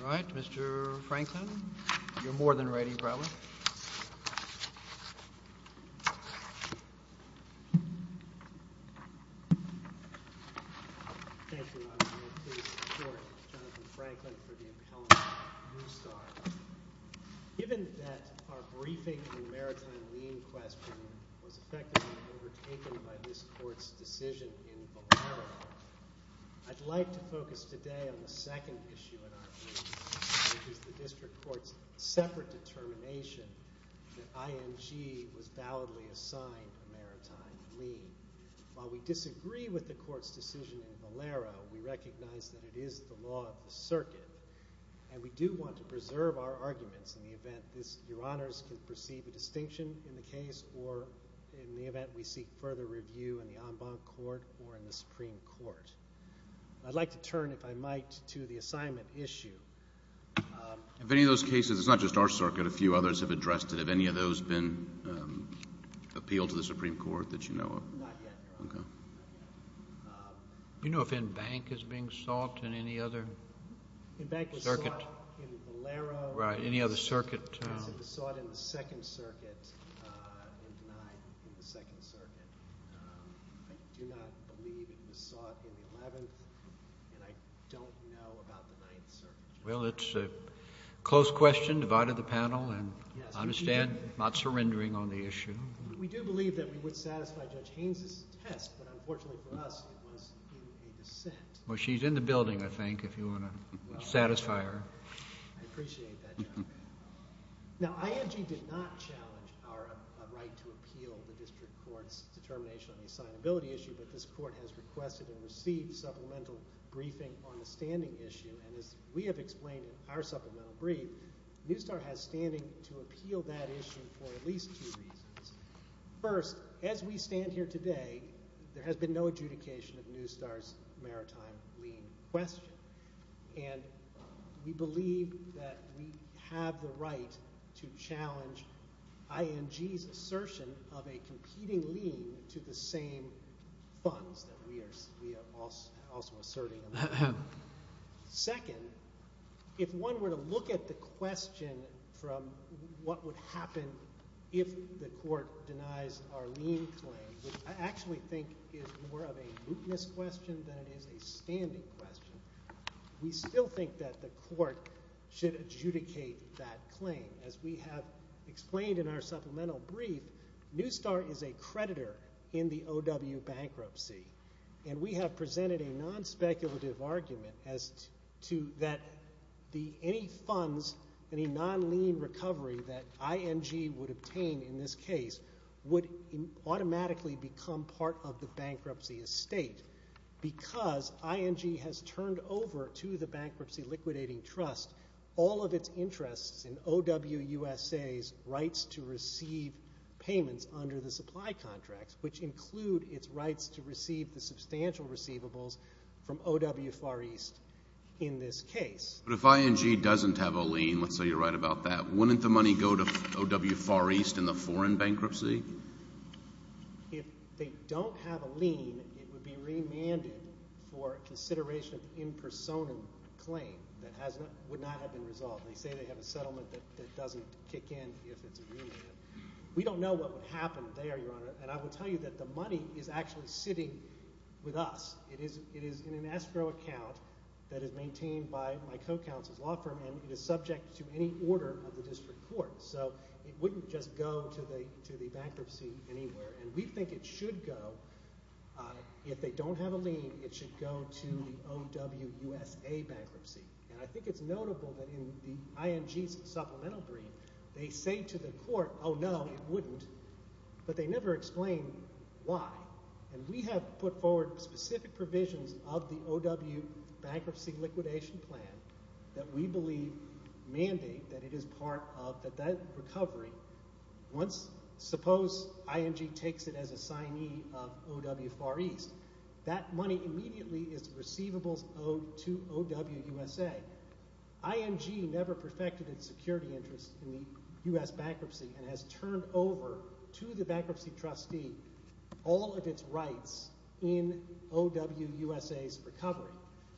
All right, Mr. Franklin. You're more than ready, probably. Thank you, Your Honor. I'm here to support Jonathan Franklin for the impelment of NewStar. Given that our briefing in the Maritime Lean question was effectively overtaken by this Court's decision in Valero, I'd like to focus today on the second issue in our brief, which is the District Court's separate determination that IMG was validly assigned a maritime lean. While we disagree with the Court's decision in Valero, we recognize that it is the law of the circuit, and we do want to preserve our arguments in the event Your Honors can perceive a distinction in the case or in the event we seek further review in the en banc court or in the Supreme Court. I'd like to turn, if I might, to the assignment issue. Of any of those cases, it's not just our circuit. A few others have addressed it. Have any of those been appealed to the Supreme Court that you know of? Not yet, Your Honor. Not yet. Do you know if en banc is being sought in any other circuit? En banc was sought in Valero. Right. Any other circuit? It was sought in the Second Circuit and denied in the Second Circuit. I do not believe it was sought in the Eleventh, and I don't know about the Ninth Circuit. Well, it's a close question, divided the panel, and I understand not surrendering on the issue. We do believe that we would satisfy Judge Haynes' test, but unfortunately for us, it was in a dissent. Well, she's in the building, I think, if you want to satisfy her. I appreciate that, Your Honor. Now, IMG did not challenge our right to appeal the district court's determination on the assignability issue, but this court has requested and received supplemental briefing on the standing issue, and as we have explained in our supplemental brief, Newstar has standing to appeal that issue for at least two reasons. First, as we stand here today, there has been no adjudication of Newstar's maritime lien question, and we believe that we have the right to challenge IMG's assertion of a competing lien to the same funds that we are also asserting. Second, if one were to look at the question from what would happen if the court denies our lien claim, which I actually think is more of a mootness question than it is a standing question, we still think that the court should adjudicate that claim. As we have explained in our supplemental brief, Newstar is a creditor in the OW bankruptcy, and we have presented a nonspeculative argument as to that any funds, any non-lien recovery that IMG would obtain in this case would automatically become part of the bankruptcy estate. Because IMG has turned over to the Bankruptcy Liquidating Trust all of its interests in OW USA's rights to receive payments under the supply contracts, which include its rights to receive the substantial receivables from OW Far East in this case. But if IMG doesn't have a lien, let's say you're right about that, wouldn't the money go to OW Far East in the foreign bankruptcy? If they don't have a lien, it would be remanded for consideration of an impersonal claim that would not have been resolved. They say they have a settlement that doesn't kick in if it's remanded. We don't know what would happen there, Your Honor, and I will tell you that the money is actually sitting with us. It is in an escrow account that is maintained by my co-counsel's law firm, and it is subject to any order of the district court. So it wouldn't just go to the bankruptcy anywhere, and we think it should go. If they don't have a lien, it should go to the OW USA bankruptcy. And I think it's notable that in the IMG's supplemental brief, they say to the court, oh, no, it wouldn't, but they never explain why. And we have put forward specific provisions of the OW bankruptcy liquidation plan that we believe mandate that it is part of that recovery. Suppose IMG takes it as a signee of OW Far East. That money immediately is receivable to OW USA. IMG never perfected its security interest in the U.S. bankruptcy and has turned over to the bankruptcy trustee all of its rights in OW USA's recovery.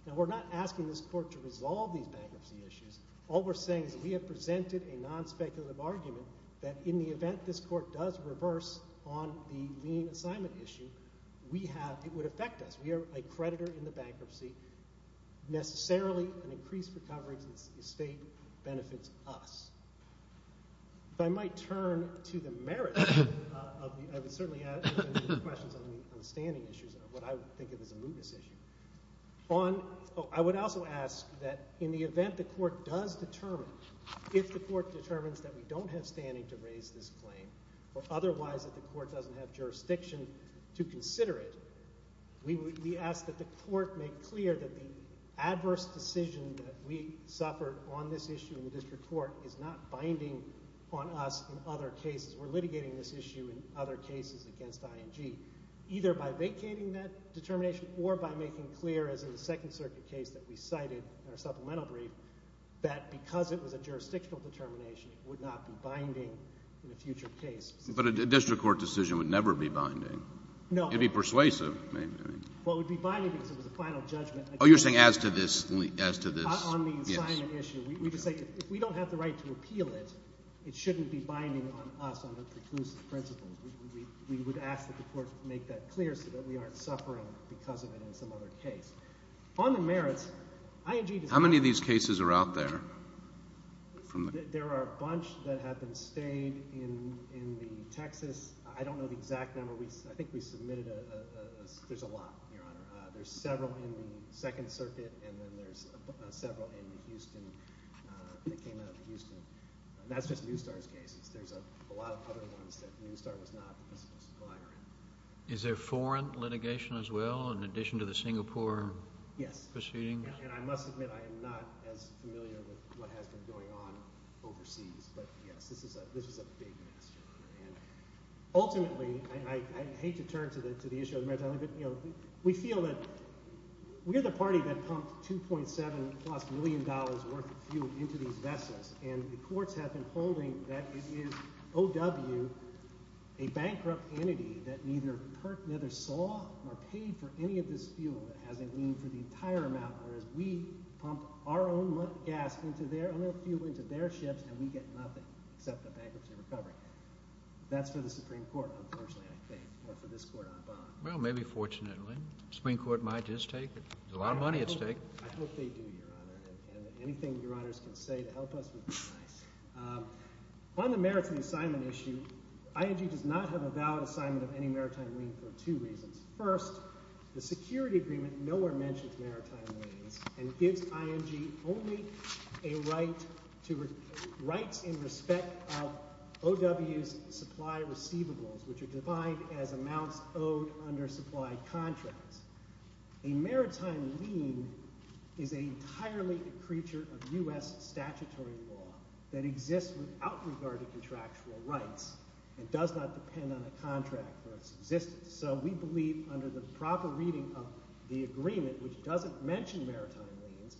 Now, we're not asking this court to resolve these bankruptcy issues. All we're saying is we have presented a nonspeculative argument that in the event this court does reverse on the lien assignment issue, we have – it would affect us. We are a creditor in the bankruptcy. Necessarily, an increased recovery to the estate benefits us. If I might turn to the merits of the – I would certainly add to the questions on the standing issues, what I would think of as a mootness issue. On – oh, I would also ask that in the event the court does determine, if the court determines that we don't have standing to raise this claim, or otherwise that the court doesn't have jurisdiction to consider it, we ask that the court make clear that the adverse decision that we suffered on this issue in the district court is not binding on us in other cases. We're litigating this issue in other cases against IMG, either by vacating that determination or by making clear, as in the Second Circuit case that we cited in our supplemental brief, that because it was a jurisdictional determination, it would not be binding in a future case. But a district court decision would never be binding. No. It would be persuasive. Well, it would be binding because it was a final judgment. Oh, you're saying as to this – as to this – On the assignment issue. Yes. We just say if we don't have the right to appeal it, it shouldn't be binding on us under preclusive principles. We would ask that the court make that clear so that we aren't suffering because of it in some other case. On the merits, IMG – How many of these cases are out there? There are a bunch that have been stayed in the Texas – I don't know the exact number. I think we submitted a – there's a lot, Your Honor. There's several in the Second Circuit, and then there's several in the Houston – that came out of the Houston. And that's just Newstar's case. There's a lot of other ones that Newstar was not the principal supplier in. Yes. And I must admit I am not as familiar with what has been going on overseas. But, yes, this is a big mess, Your Honor. And ultimately – I hate to turn to the issue of the maritime liquid – we feel that we're the party that pumped $2.7 million-plus worth of fuel into these vessels, and the courts have been holding that it is O.W., a bankrupt entity that neither saw or paid for any of this fuel that has a lien for the entire amount, whereas we pump our own gas into their – our own fuel into their ships, and we get nothing except a bankruptcy recovery. That's for the Supreme Court, unfortunately, I think, or for this court on bond. Well, maybe fortunately. The Supreme Court might just take it. There's a lot of money at stake. I hope they do, Your Honor. And anything Your Honors can say to help us would be nice. On the maritime assignment issue, IMG does not have a valid assignment of any maritime lien for two reasons. First, the security agreement nowhere mentions maritime liens and gives IMG only a right to – rights in respect of O.W.'s supply receivables, which are defined as amounts owed under supply contracts. A maritime lien is entirely a creature of U.S. statutory law that exists without regard to contractual rights and does not depend on a contract for its existence. So we believe under the proper reading of the agreement, which doesn't mention maritime liens,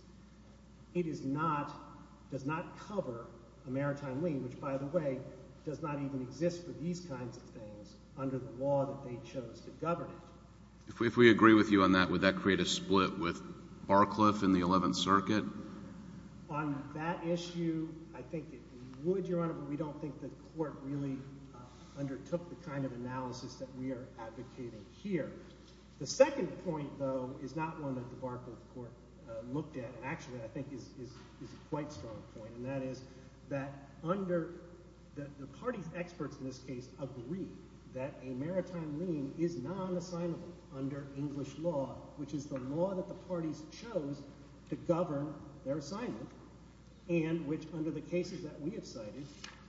it is not – does not cover a maritime lien, which, by the way, does not even exist for these kinds of things under the law that they chose to govern it. If we agree with you on that, would that create a split with Barcliffe in the Eleventh Circuit? On that issue, I think it would, Your Honor, and we don't think the court really undertook the kind of analysis that we are advocating here. The second point, though, is not one that the Barcliffe Court looked at, and actually I think is a quite strong point, and that is that under – that the party's experts in this case agree that a maritime lien is non-assignable under English law, which is the law that the parties chose to govern their assignment and which, under the cases that we have cited,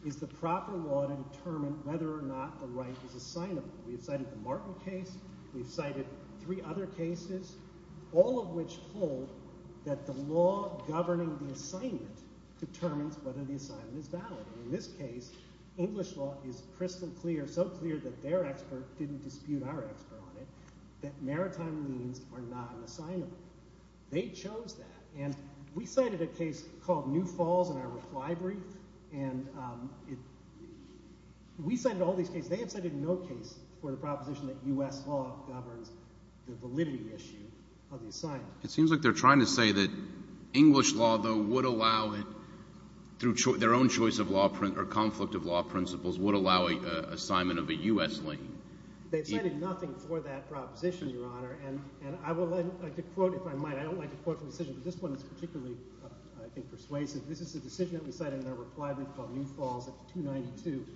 is the proper law to determine whether or not the right is assignable. We have cited the Martin case. We have cited three other cases, all of which hold that the law governing the assignment determines whether the assignment is valid. In this case, English law is crystal clear, so clear that their expert didn't dispute our expert on it, that maritime liens are non-assignable. They chose that, and we cited a case called New Falls in our reply brief, and we cited all these cases. They have cited no case for the proposition that U.S. law governs the validity issue of the assignment. It seems like they're trying to say that English law, though, would allow it through their own choice of law or conflict of law principles would allow an assignment of a U.S. lien. They've cited nothing for that proposition, Your Honor, and I would like to quote, if I might. I don't like to quote from a decision, but this one is particularly, I think, persuasive. This is a decision that we cited in our reply brief called New Falls at 292.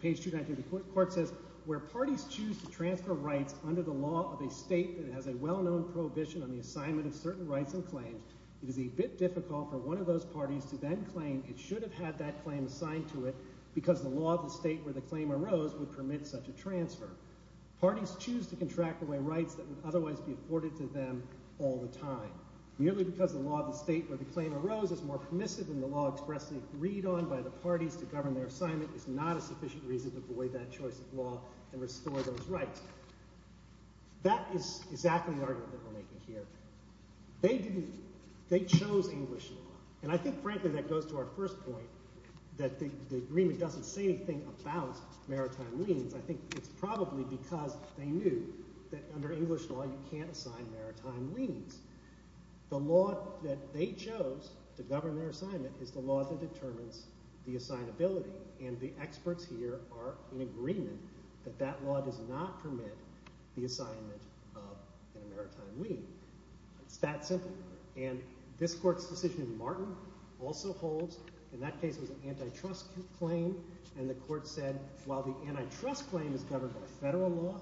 Page 292 of the court says, Where parties choose to transfer rights under the law of a state that has a well-known prohibition on the assignment of certain rights and claims, it is a bit difficult for one of those parties to then claim it should have had that claim assigned to it Parties choose to contract away rights that would otherwise be afforded to them all the time. Merely because the law of the state where the claim arose is more permissive than the law expressly agreed on by the parties to govern their assignment is not a sufficient reason to void that choice of law and restore those rights. That is exactly the argument that we're making here. They chose English law, and I think, frankly, that goes to our first point, that the agreement doesn't say anything about maritime liens. I think it's probably because they knew that under English law you can't assign maritime liens. The law that they chose to govern their assignment is the law that determines the assignability, and the experts here are in agreement that that law does not permit the assignment of a maritime lien. It's that simple, and this court's decision in Martin also holds. In that case, it was an antitrust claim, and the court said while the antitrust claim is governed by federal law,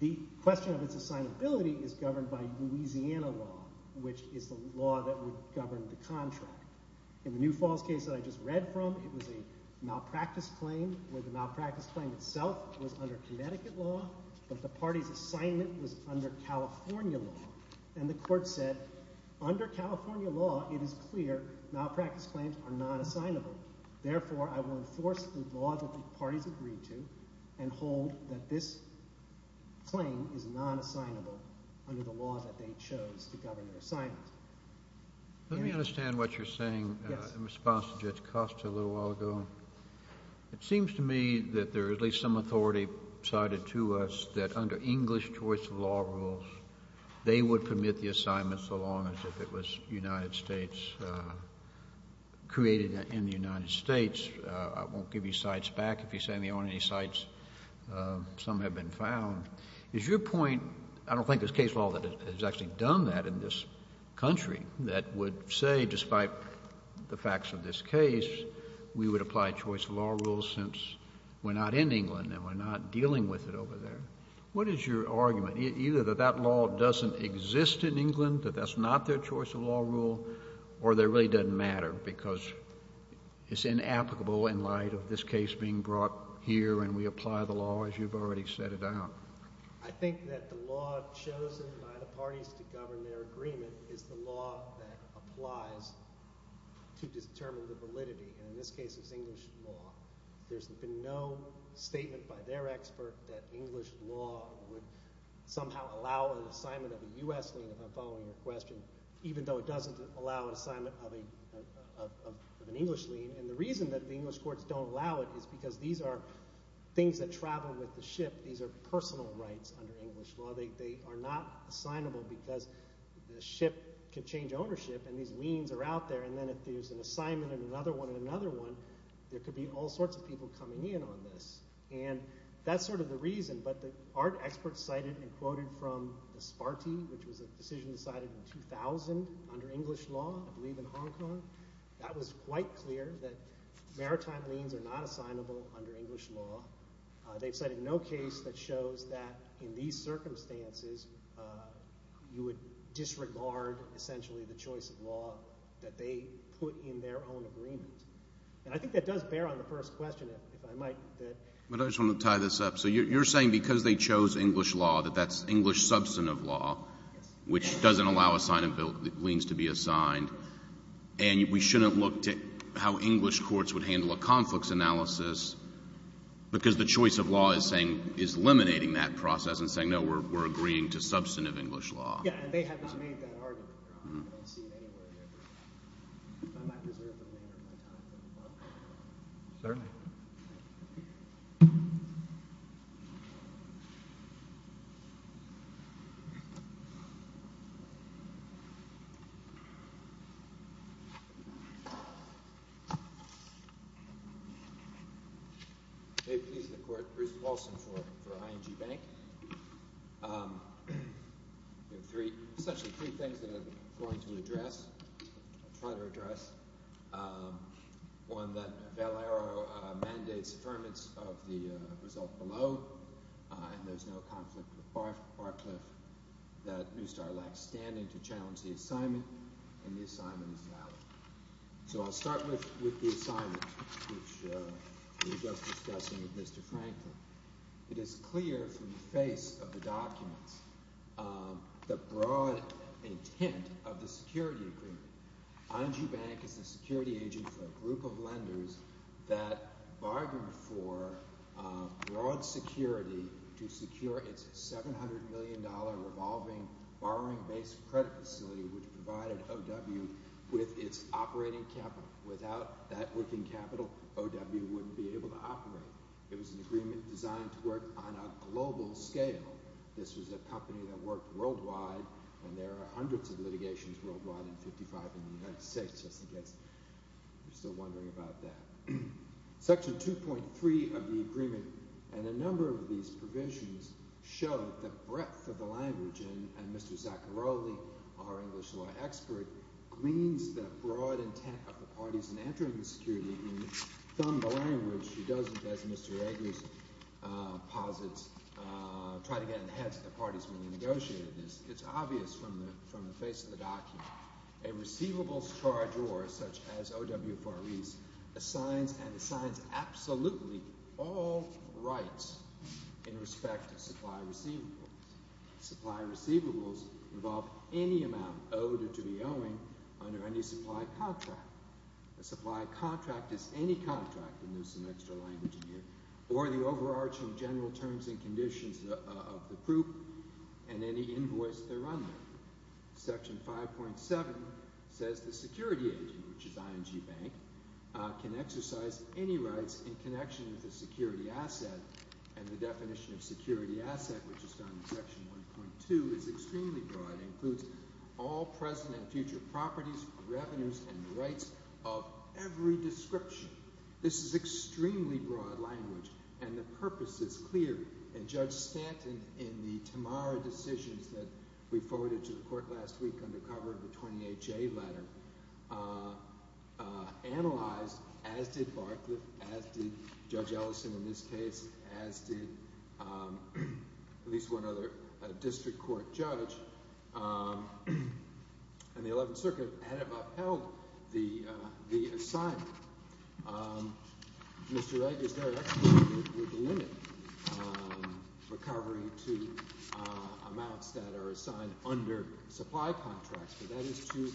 the question of its assignability is governed by Louisiana law, which is the law that would govern the contract. In the New Falls case that I just read from, it was a malpractice claim where the malpractice claim itself was under Connecticut law, but the party's assignment was under California law, and the court said under California law it is clear malpractice claims are not assignable. Therefore, I will enforce the law that the parties agreed to and hold that this claim is non-assignable under the law that they chose to govern their assignment. Let me understand what you're saying in response to Judge Costa a little while ago. It seems to me that there is at least some authority cited to us that under English choice of law rules, they would permit the assignment so long as it was United States, created in the United States. I won't give you cites back if you say they aren't any cites. Some have been found. Is your point, I don't think there's case law that has actually done that in this country that would say despite the facts of this case, we would apply choice of law rules since we're not in England and we're not dealing with it over there. What is your argument? Either that that law doesn't exist in England, that that's not their choice of law rule, or that it really doesn't matter because it's inapplicable in light of this case being brought here and we apply the law as you've already set it out. I think that the law chosen by the parties to govern their agreement is the law that applies to determine the validity, and in this case it's English law. There's been no statement by their expert that English law would somehow allow an assignment of a U.S. lien, if I'm following your question, even though it doesn't allow an assignment of an English lien, and the reason that the English courts don't allow it is because these are things that travel with the ship. These are personal rights under English law. They are not assignable because the ship can change ownership and these liens are out there, and then if there's an assignment and another one and another one, there could be all sorts of people coming in on this, and that's sort of the reason, but the art experts cited and quoted from the Sparty, which was a decision decided in 2000 under English law, I believe in Hong Kong, that was quite clear that maritime liens are not assignable under English law. They've cited no case that shows that in these circumstances, you would disregard essentially the choice of law that they put in their own agreement, and I think that does bear on the first question, if I might. But I just want to tie this up. So you're saying because they chose English law that that's English substantive law, which doesn't allow assignment of liens to be assigned, and we shouldn't look to how English courts would handle a conflicts analysis because the choice of law is saying is eliminating that process and saying, no, we're agreeing to substantive English law. Yeah, and they haven't made that argument. I don't see it anywhere here. If I might reserve the remainder of my time. Certainly. They please the court, Bruce Paulson for ING Bank. Three, essentially three things that I'm going to address, try to address. One, that Valero mandates affirmance of the result below, and there's no conflict with Barcliff, that Neustadt lacks standing to challenge the assignment, and the assignment is valid. So I'll start with the assignment, which we were just discussing with Mr. Franklin. It is clear from the face of the documents the broad intent of the security agreement. ING Bank is a security agent for a group of lenders that bargained for broad security to secure its $700 million revolving borrowing-based credit facility, which provided O.W. with its operating capital. Without that working capital, O.W. wouldn't be able to operate. It was an agreement designed to work on a global scale. This was a company that worked worldwide, and there are hundreds of litigations worldwide, and 55 in the United States, just in case you're still wondering about that. Section 2.3 of the agreement and a number of these provisions show the breadth of the language, and Mr. Zaccaroli, our English law expert, gleans the broad intent of the parties in entering the security agreement, and he doesn't, as Mr. Eggers posits, try to get in the heads of the parties when we negotiate this. It's obvious from the face of the document. A receivables charge order, such as O.W. Farre's, assigns and assigns absolutely all rights in respect to supply receivables. Supply receivables involve any amount owed or to be owing under any supply contract. A supply contract is any contract, and there's some extra language in here, or the overarching general terms and conditions of the proof and any invoice thereunder. Section 5.7 says the security agent, which is ING Bank, can exercise any rights in connection with a security asset, and the definition of security asset, which is found in Section 1.2, is extremely broad. It includes all present and future properties, revenues, and rights of every description. This is extremely broad language, and the purpose is clear. And Judge Stanton, in the Tamara decisions that we forwarded to the Court last week under cover of the 20HA letter, analyzed, as did Barcliff, as did Judge Ellison in this case, as did at least one other district court judge, and the Eleventh Circuit had upheld the assignment. Mr. Wright is there, actually, with the limit recovery to amounts that are assigned under supply contracts, but that is too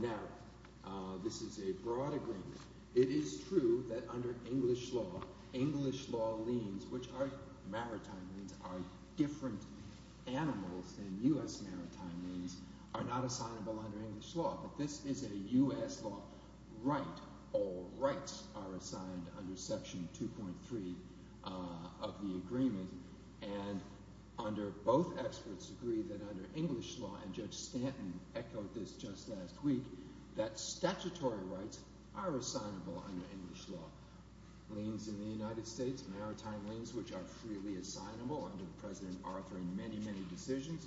narrow. This is a broad agreement. It is true that under English law, English law liens, which are maritime liens, are different animals than U.S. maritime liens, are not assignable under English law, but this is a U.S. law right. All rights are assigned under Section 2.3 of the agreement, and both experts agree that under English law, and Judge Stanton echoed this just last week, that statutory rights are assignable under English law. Liens in the United States, maritime liens, which are freely assignable under President Arthur and many, many decisions,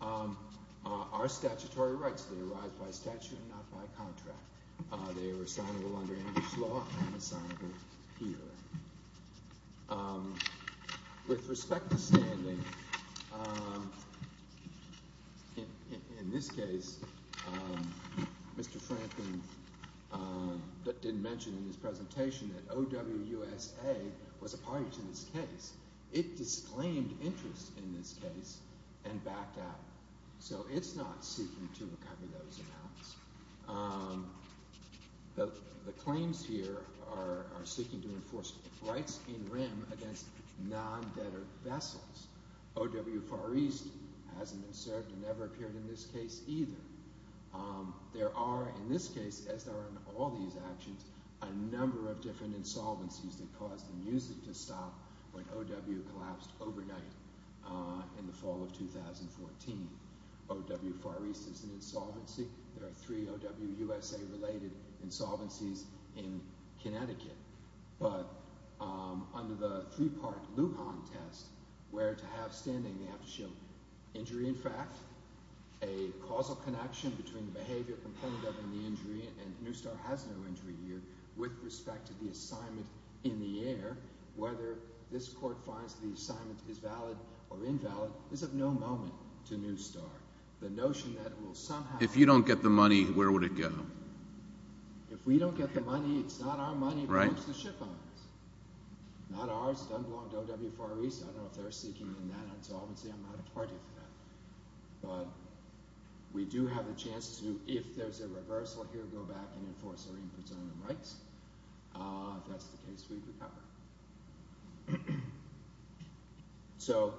are statutory rights. They arise by statute, not by contract. They are assignable under English law and assignable here. With respect to standing, in this case, Mr. Franklin didn't mention in his presentation that OWUSA was a party to this case. It disclaimed interest in this case and backed out, so it's not seeking to recover those amounts. The claims here are seeking to enforce rights in rem against non-debtor vessels. OW Far East hasn't been served and never appeared in this case either. There are, in this case, as there are in all these actions, a number of different insolvencies that caused the music to stop when OW collapsed overnight in the fall of 2014. OW Far East is an insolvency. There are three OWUSA-related insolvencies in Connecticut. But under the three-part Lujan test, where to have standing they have to show injury in fact, a causal connection between the behavior component of the injury, and New Star has no injury here, with respect to the assignment in the air, whether this court finds the assignment is valid or invalid, is of no moment to New Star. The notion that it will somehow... If you don't get the money, where would it go? If we don't get the money, it's not our money. It belongs to the ship owners. Not ours. It doesn't belong to OW Far East. I don't know if they're seeking an insolvency. I'm not a party to that. But we do have a chance to, if there's a reversal here, go back and enforce our inputs on the rights. If that's the case, we recover. So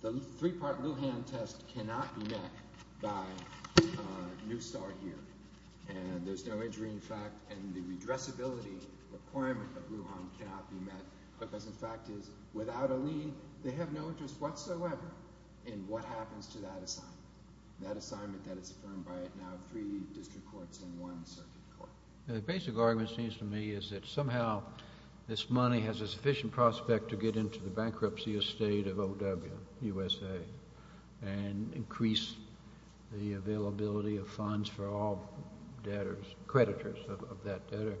the three-part Lujan test cannot be met by New Star here. And there's no injury in fact, and the redressability requirement of Lujan cannot be met, because the fact is, without a lien, they have no interest whatsoever in what happens to that assignment. That assignment that is affirmed by now three district courts and one circuit court. The basic argument, it seems to me, is that somehow this money has a sufficient prospect to get into the bankruptcy estate of OW USA and increase the availability of funds for all debtors, creditors of that debtor.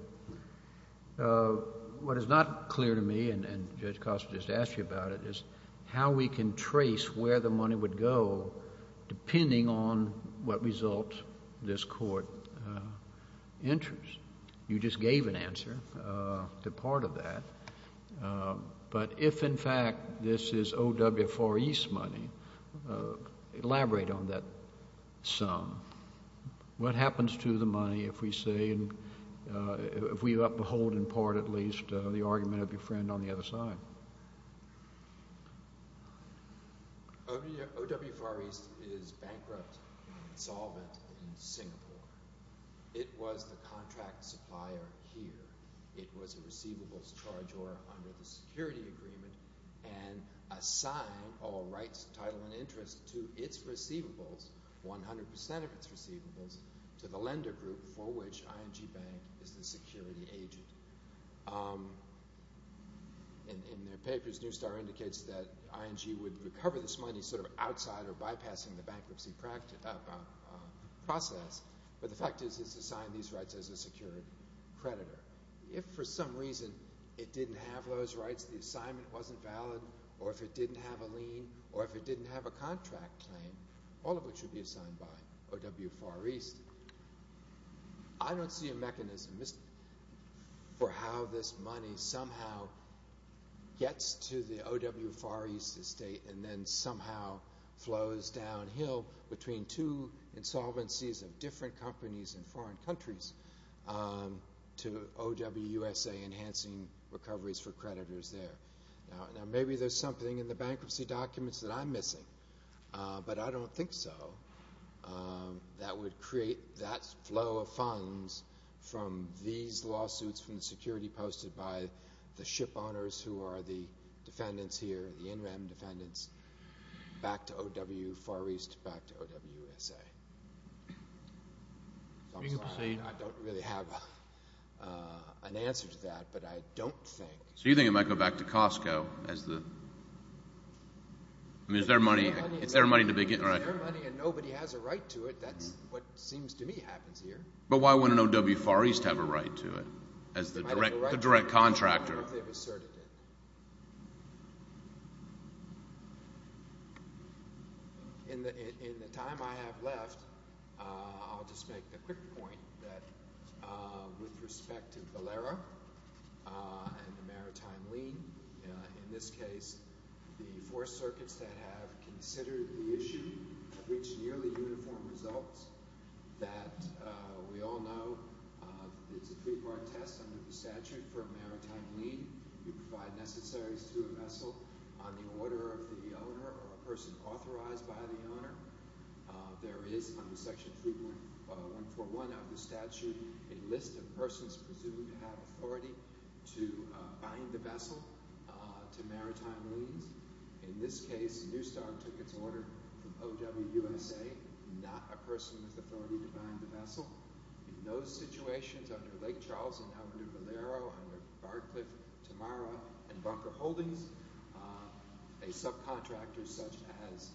What is not clear to me, and Judge Costa just asked you about it, is how we can trace where the money would go depending on what results this court enters. You just gave an answer to part of that. But if in fact this is OW Far East money, elaborate on that sum. What happens to the money if we say, if we uphold in part at least the argument of your friend on the other side? OW Far East is bankrupt and insolvent in Singapore. It was the contract supplier here. It was a receivables charger under the security agreement and assigned all rights, title, and interest to its receivables, 100% of its receivables, to the lender group for which ING Bank is the security agent. In their papers, New Star indicates that ING would recover this money sort of outside or bypassing the bankruptcy process. But the fact is it's assigned these rights as a secured creditor. If for some reason it didn't have those rights, the assignment wasn't valid, or if it didn't have a lien, or if it didn't have a contract claim, all of it should be assigned by OW Far East. I don't see a mechanism for how this money somehow gets to the OW Far East estate and then somehow flows downhill between two insolvencies of different companies in foreign countries to OW USA enhancing recoveries for creditors there. Now maybe there's something in the bankruptcy documents that I'm missing, but I don't think so, that would create that flow of funds from these lawsuits from the security posted by the ship owners who are the defendants here, the in-rem defendants, back to OW Far East, back to OW USA. I'm sorry, I don't really have an answer to that, but I don't think— So you think it might go back to Costco as the—I mean, it's their money to begin with, right? It's their money and nobody has a right to it. That's what seems to me happens here. But why wouldn't OW Far East have a right to it as the direct contractor? I don't know if they've asserted it. In the time I have left, I'll just make a quick point that with respect to Valera and the maritime lien, in this case the four circuits that have considered the issue have reached nearly uniform results that we all know it's a three-part test under the statute for a maritime lien. You provide necessaries to a vessel on the order of the owner or a person authorized by the owner. There is, under Section 3.141 of the statute, a list of persons presumed to have authority to bind the vessel to maritime liens. In this case, Newstar took its order from OW USA, not a person with authority to bind the vessel. In those situations, under Lake Charles, under Valero, under Barcliff, Tamara, and Bunker Holdings, a subcontractor such as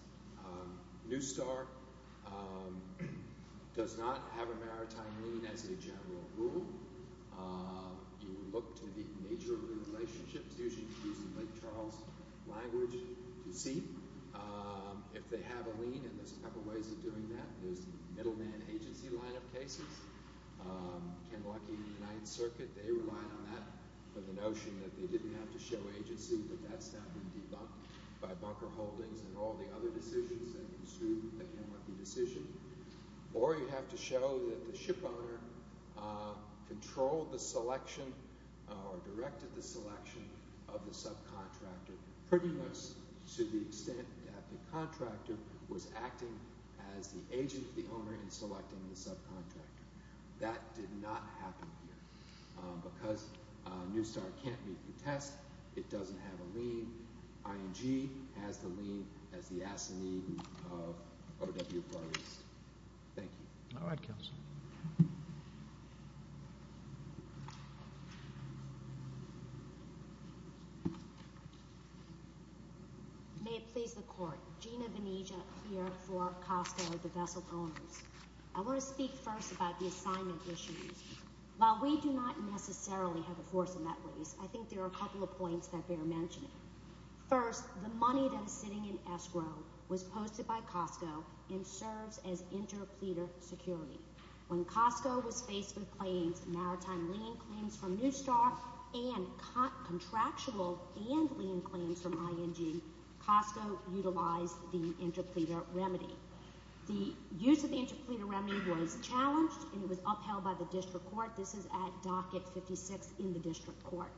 Newstar does not have a maritime lien as a general rule. You look to the nature of the relationships, usually using Lake Charles language, to see if they have a lien. There's a couple of ways of doing that. There's the middleman agency line of cases. Ken Lucky and the Ninth Circuit, they relied on that for the notion that they didn't have to show agency, but that's now been debunked by Bunker Holdings and all the other decisions that ensued the Ken Lucky decision. Or you have to show that the shipowner controlled the selection or directed the selection of the subcontractor, pretty much to the extent that the contractor was acting as the agent, the owner, in selecting the subcontractor. That did not happen here. Because Newstar can't meet the test, it doesn't have a lien. ING has the lien as the assignee of OW of Barcliffs. Thank you. All right, Counsel. May it please the Court. Gina Bonegia here for Costco, the vessel owners. I want to speak first about the assignment issues. While we do not necessarily have a force in that race, I think there are a couple of points that bear mentioning. First, the money that is sitting in escrow was posted by Costco and serves as interpleader security. When Costco was faced with claims, maritime lien claims from Newstar and contractual and lien claims from ING, Costco utilized the interpleader remedy. The use of the interpleader remedy was challenged and it was upheld by the district court. This is at Docket 56 in the district court.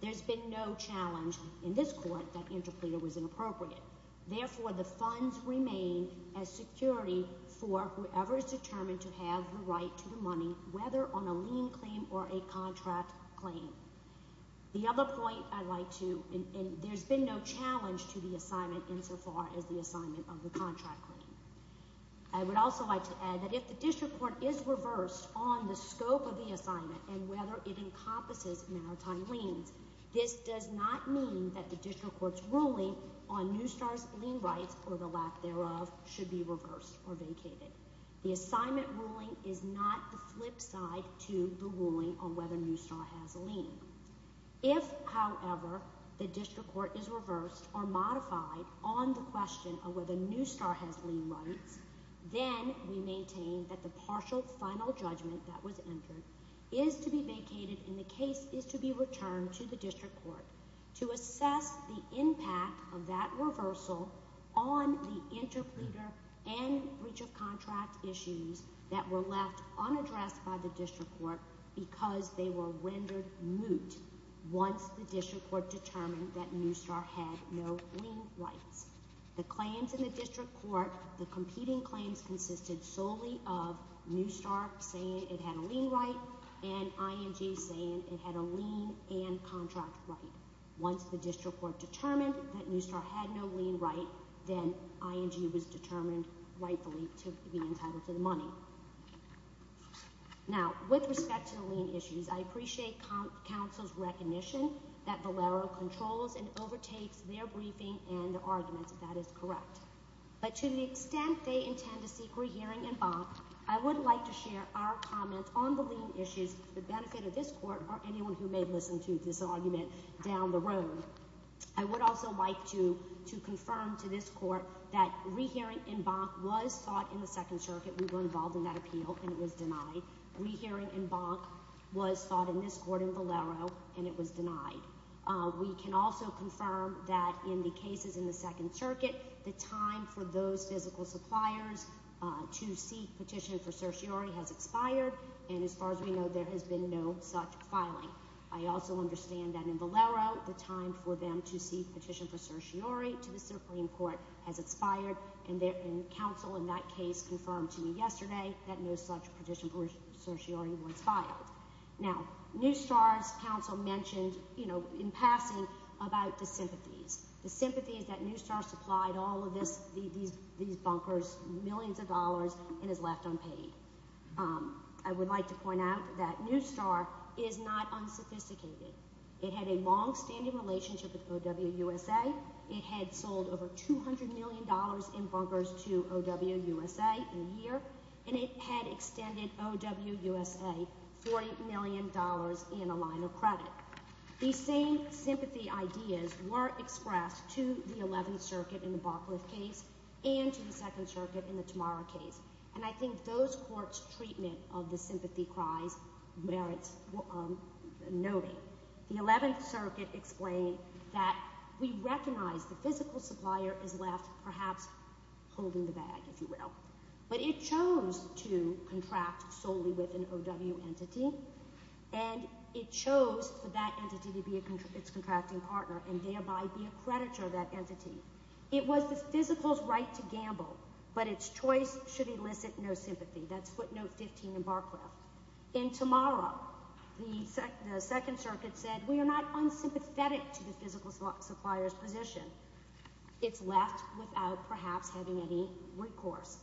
There's been no challenge in this court that interpleader was inappropriate. Therefore, the funds remain as security for whoever is determined to have the right to the money, whether on a lien claim or a contract claim. The other point I'd like to—and there's been no challenge to the assignment insofar as the assignment of the contract claim. I would also like to add that if the district court is reversed on the scope of the assignment and whether it encompasses maritime liens, this does not mean that the district court's ruling on Newstar's lien rights or the lack thereof should be reversed or vacated. The assignment ruling is not the flip side to the ruling on whether Newstar has a lien. If, however, the district court is reversed or modified on the question of whether Newstar has lien rights, then we maintain that the partial final judgment that was entered is to be vacated and the case is to be returned to the district court to assess the impact of that reversal on the interpleader and breach of contract issues that were left unaddressed by the district court because they were rendered moot once the district court determined that Newstar had no lien rights. The claims in the district court, the competing claims, consisted solely of Newstar saying it had a lien right and ING saying it had a lien and contract right. Once the district court determined that Newstar had no lien right, then ING was determined rightfully to be entitled to the money. Now, with respect to the lien issues, I appreciate counsel's recognition that Valero controls and overtakes their briefing and their arguments, if that is correct. But to the extent they intend to seek rehearing and bonk, I would like to share our comment on the lien issues to the benefit of this court or anyone who may listen to this argument down the road. I would also like to confirm to this court that rehearing and bonk was sought in the Second Circuit. We were involved in that appeal and it was denied. Rehearing and bonk was sought in this court in Valero and it was denied. We can also confirm that in the cases in the Second Circuit, the time for those physical suppliers to seek petition for certiorari has expired and as far as we know, there has been no such filing. I also understand that in Valero, the time for them to seek petition for certiorari to the Supreme Court has expired and counsel in that case confirmed to me yesterday that no such petition for certiorari was filed. Now, Newstar's counsel mentioned, you know, in passing, about the sympathies. The sympathy is that Newstar supplied all of these bunkers millions of dollars and is left unpaid. I would like to point out that Newstar is not unsophisticated. It had a longstanding relationship with OWUSA. It had sold over $200 million in bunkers to OWUSA in a year, and it had extended OWUSA $40 million in a line of credit. These same sympathy ideas were expressed to the Eleventh Circuit in the Barcliffe case and to the Second Circuit in the Tamara case, and I think those courts' treatment of the sympathy cries merits noting. The Eleventh Circuit explained that we recognize the physical supplier is left perhaps holding the bag, if you will, but it chose to contract solely with an OW entity, and it chose for that entity to be its contracting partner and thereby be a creditor of that entity. It was the physical's right to gamble, but its choice should elicit no sympathy. That's footnote 15 in Barcliffe. In Tamara, the Second Circuit said we are not unsympathetic to the physical supplier's position. It's left without perhaps having any recourse,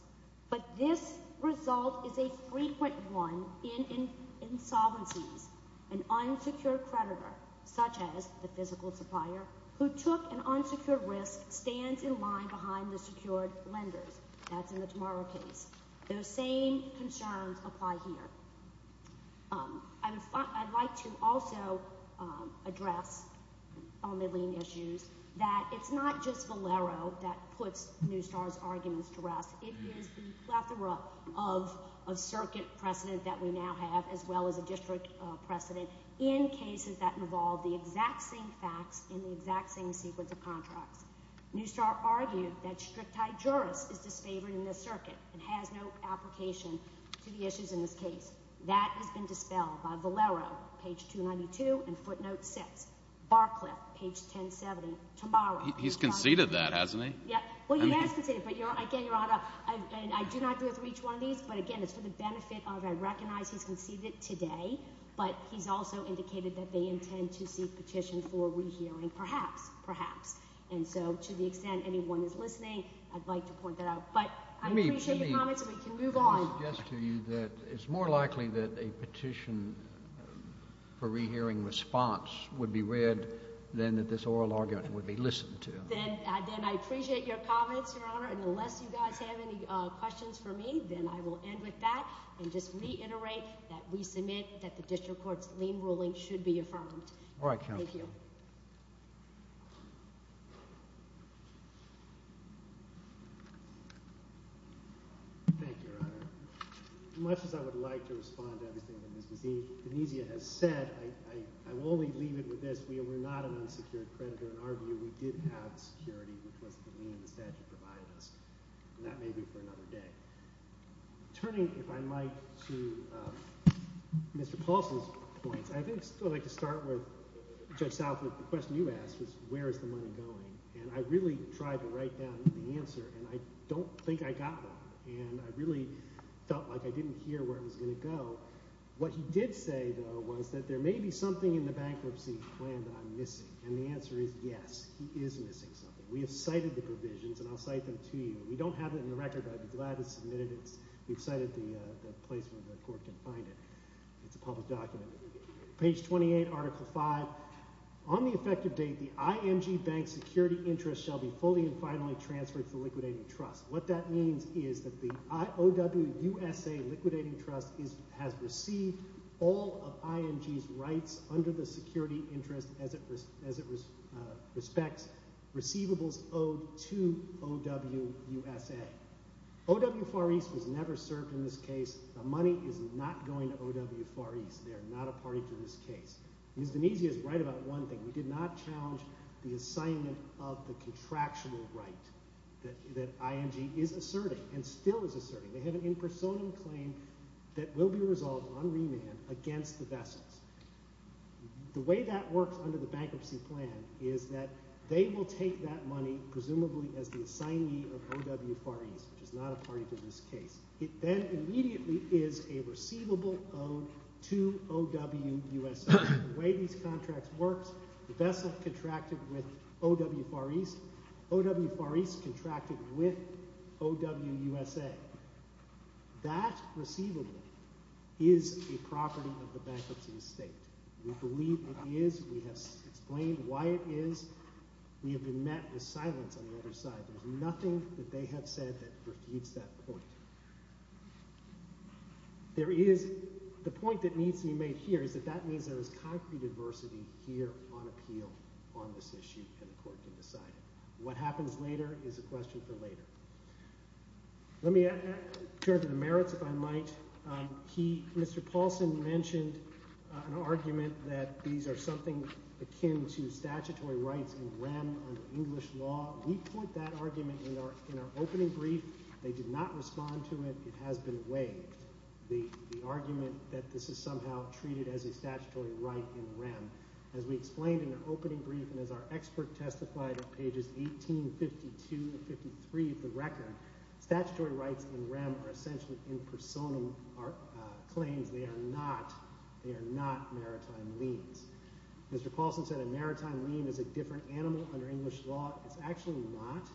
but this result is a frequent one in insolvencies. An unsecured creditor, such as the physical supplier, who took an unsecured risk stands in line behind the secured lenders. That's in the Tamara case. Those same concerns apply here. I would like to also address on the lien issues that it's not just Valero that puts Newstar's arguments to rest. It is the plethora of circuit precedent that we now have, as well as a district precedent, in cases that involve the exact same facts in the exact same sequence of contracts. Newstar argued that strict-type jurors is disfavored in this circuit and has no application to the issues in this case. That has been dispelled by Valero, page 292, and footnote 6. Barcliffe, page 1070, Tamara. He's conceded that, hasn't he? Well, you may have conceded it, but, again, Your Honor, I do not agree with each one of these, but, again, it's for the benefit of I recognize he's conceded it today, but he's also indicated that they intend to seek petition for rehearing perhaps, perhaps. And so to the extent anyone is listening, I'd like to point that out. But I appreciate your comments, and we can move on. Let me suggest to you that it's more likely that a petition for rehearing response would be read than that this oral argument would be listened to. Then I appreciate your comments, Your Honor, and unless you guys have any questions for me, then I will end with that and just reiterate that we submit that the district court's lien ruling should be affirmed. All right, counsel. Thank you. Thank you, Your Honor. As much as I would like to respond to everything that Ms. Dinesia has said, I will only leave it with this. We were not an unsecured creditor in our view. We did have security, which was the lien the statute provided us, and that may be for another day. Turning, if I might, to Mr. Paulson's points, I think I'd like to start with Judge Southwood. The question you asked was where is the money going, and I really tried to write down the answer, and I don't think I got one. And I really felt like I didn't hear where it was going to go. What he did say, though, was that there may be something in the bankruptcy plan that I'm missing, and the answer is yes, he is missing something. We have cited the provisions, and I'll cite them to you. We don't have it in the record, but I'd be glad to submit it. We've cited the place where the court can find it. It's a public document. Page 28, Article V. On the effective date, the IMG Bank's security interest shall be fully and finally transferred to the liquidating trust. What that means is that the OWUSA liquidating trust has received all of IMG's rights under the security interest as it respects receivables owed to OWUSA. OW Far East was never served in this case. The money is not going to OW Far East. They are not a party to this case. Misdemeanor is right about one thing. We did not challenge the assignment of the contractual right that IMG is asserting and still is asserting. They have an impersonal claim that will be resolved on remand against the vessels. The way that works under the bankruptcy plan is that they will take that money, presumably as the assignee of OW Far East, which is not a party to this case. It then immediately is a receivable owed to OWUSA. The way these contracts work, the vessel contracted with OW Far East, OW Far East contracted with OWUSA. That receivable is a property of the bankruptcy estate. We believe it is. We have explained why it is. We have been met with silence on the other side. There is nothing that they have said that refutes that point. The point that needs to be made here is that that means there is concrete adversity here on appeal on this issue, and the court can decide it. What happens later is a question for later. Let me turn to the merits, if I might. Mr. Paulson mentioned an argument that these are something akin to statutory rights in rem under English law. We point that argument in our opening brief. They did not respond to it. It has been weighed, the argument that this is somehow treated as a statutory right in rem. As we explained in our opening brief and as our expert testified on pages 18, 52, and 53 of the record, statutory rights in rem are essentially in personam claims. They are not maritime liens. Mr. Paulson said a maritime lien is a different animal under English law. It is actually not.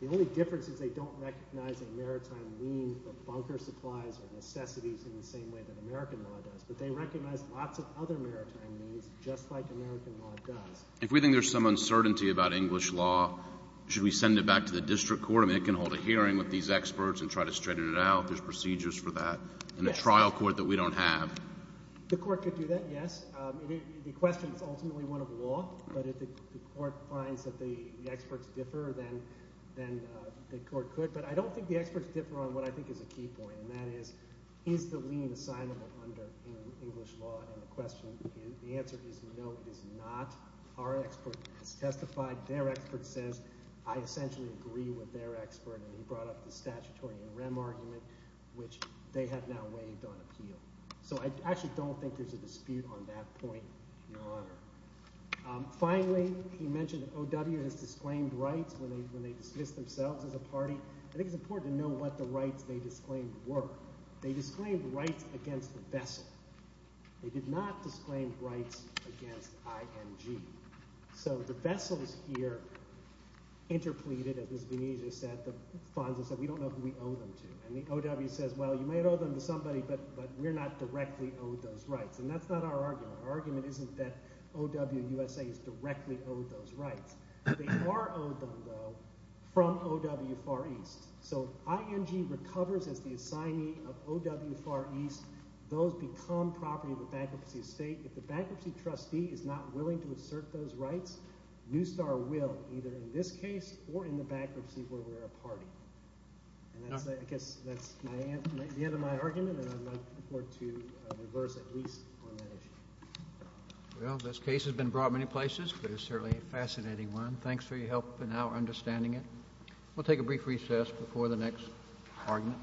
The only difference is they don't recognize a maritime lien for bunker supplies or necessities in the same way that American law does. But they recognize lots of other maritime liens just like American law does. If we think there is some uncertainty about English law, should we send it back to the district court? I mean it can hold a hearing with these experts and try to straighten it out. There are procedures for that in a trial court that we don't have. The court could do that, yes. The question is ultimately one of law, but if the court finds that the experts differ, then the court could. But I don't think the experts differ on what I think is a key point, and that is, is the lien assignment under English law? And the question – the answer is no, it is not. Our expert has testified. Their expert says I essentially agree with their expert, and he brought up the statutory in rem argument, which they have now weighed on appeal. So I actually don't think there's a dispute on that point, Your Honor. Finally, he mentioned O.W. has disclaimed rights when they dismiss themselves as a party. I think it's important to know what the rights they disclaimed were. They disclaimed rights against the vessel. They did not disclaim rights against IMG. So the vessels here interpleaded, as Venezia said, the funds. We don't know who we owe them to. And the O.W. says, well, you may owe them to somebody, but we're not directly owed those rights. And that's not our argument. Our argument isn't that O.W. USA is directly owed those rights. They are owed them, though, from O.W. Far East. So IMG recovers as the assignee of O.W. Far East. Those become property of the bankruptcy estate. If the bankruptcy trustee is not willing to assert those rights, Newstar will either in this case or in the bankruptcy where we're a party. I guess that's the end of my argument, and I'd like for it to reverse at least on that issue. Well, this case has been brought many places, but it's certainly a fascinating one. Thanks for your help in our understanding it. We'll take a brief recess before the next argument.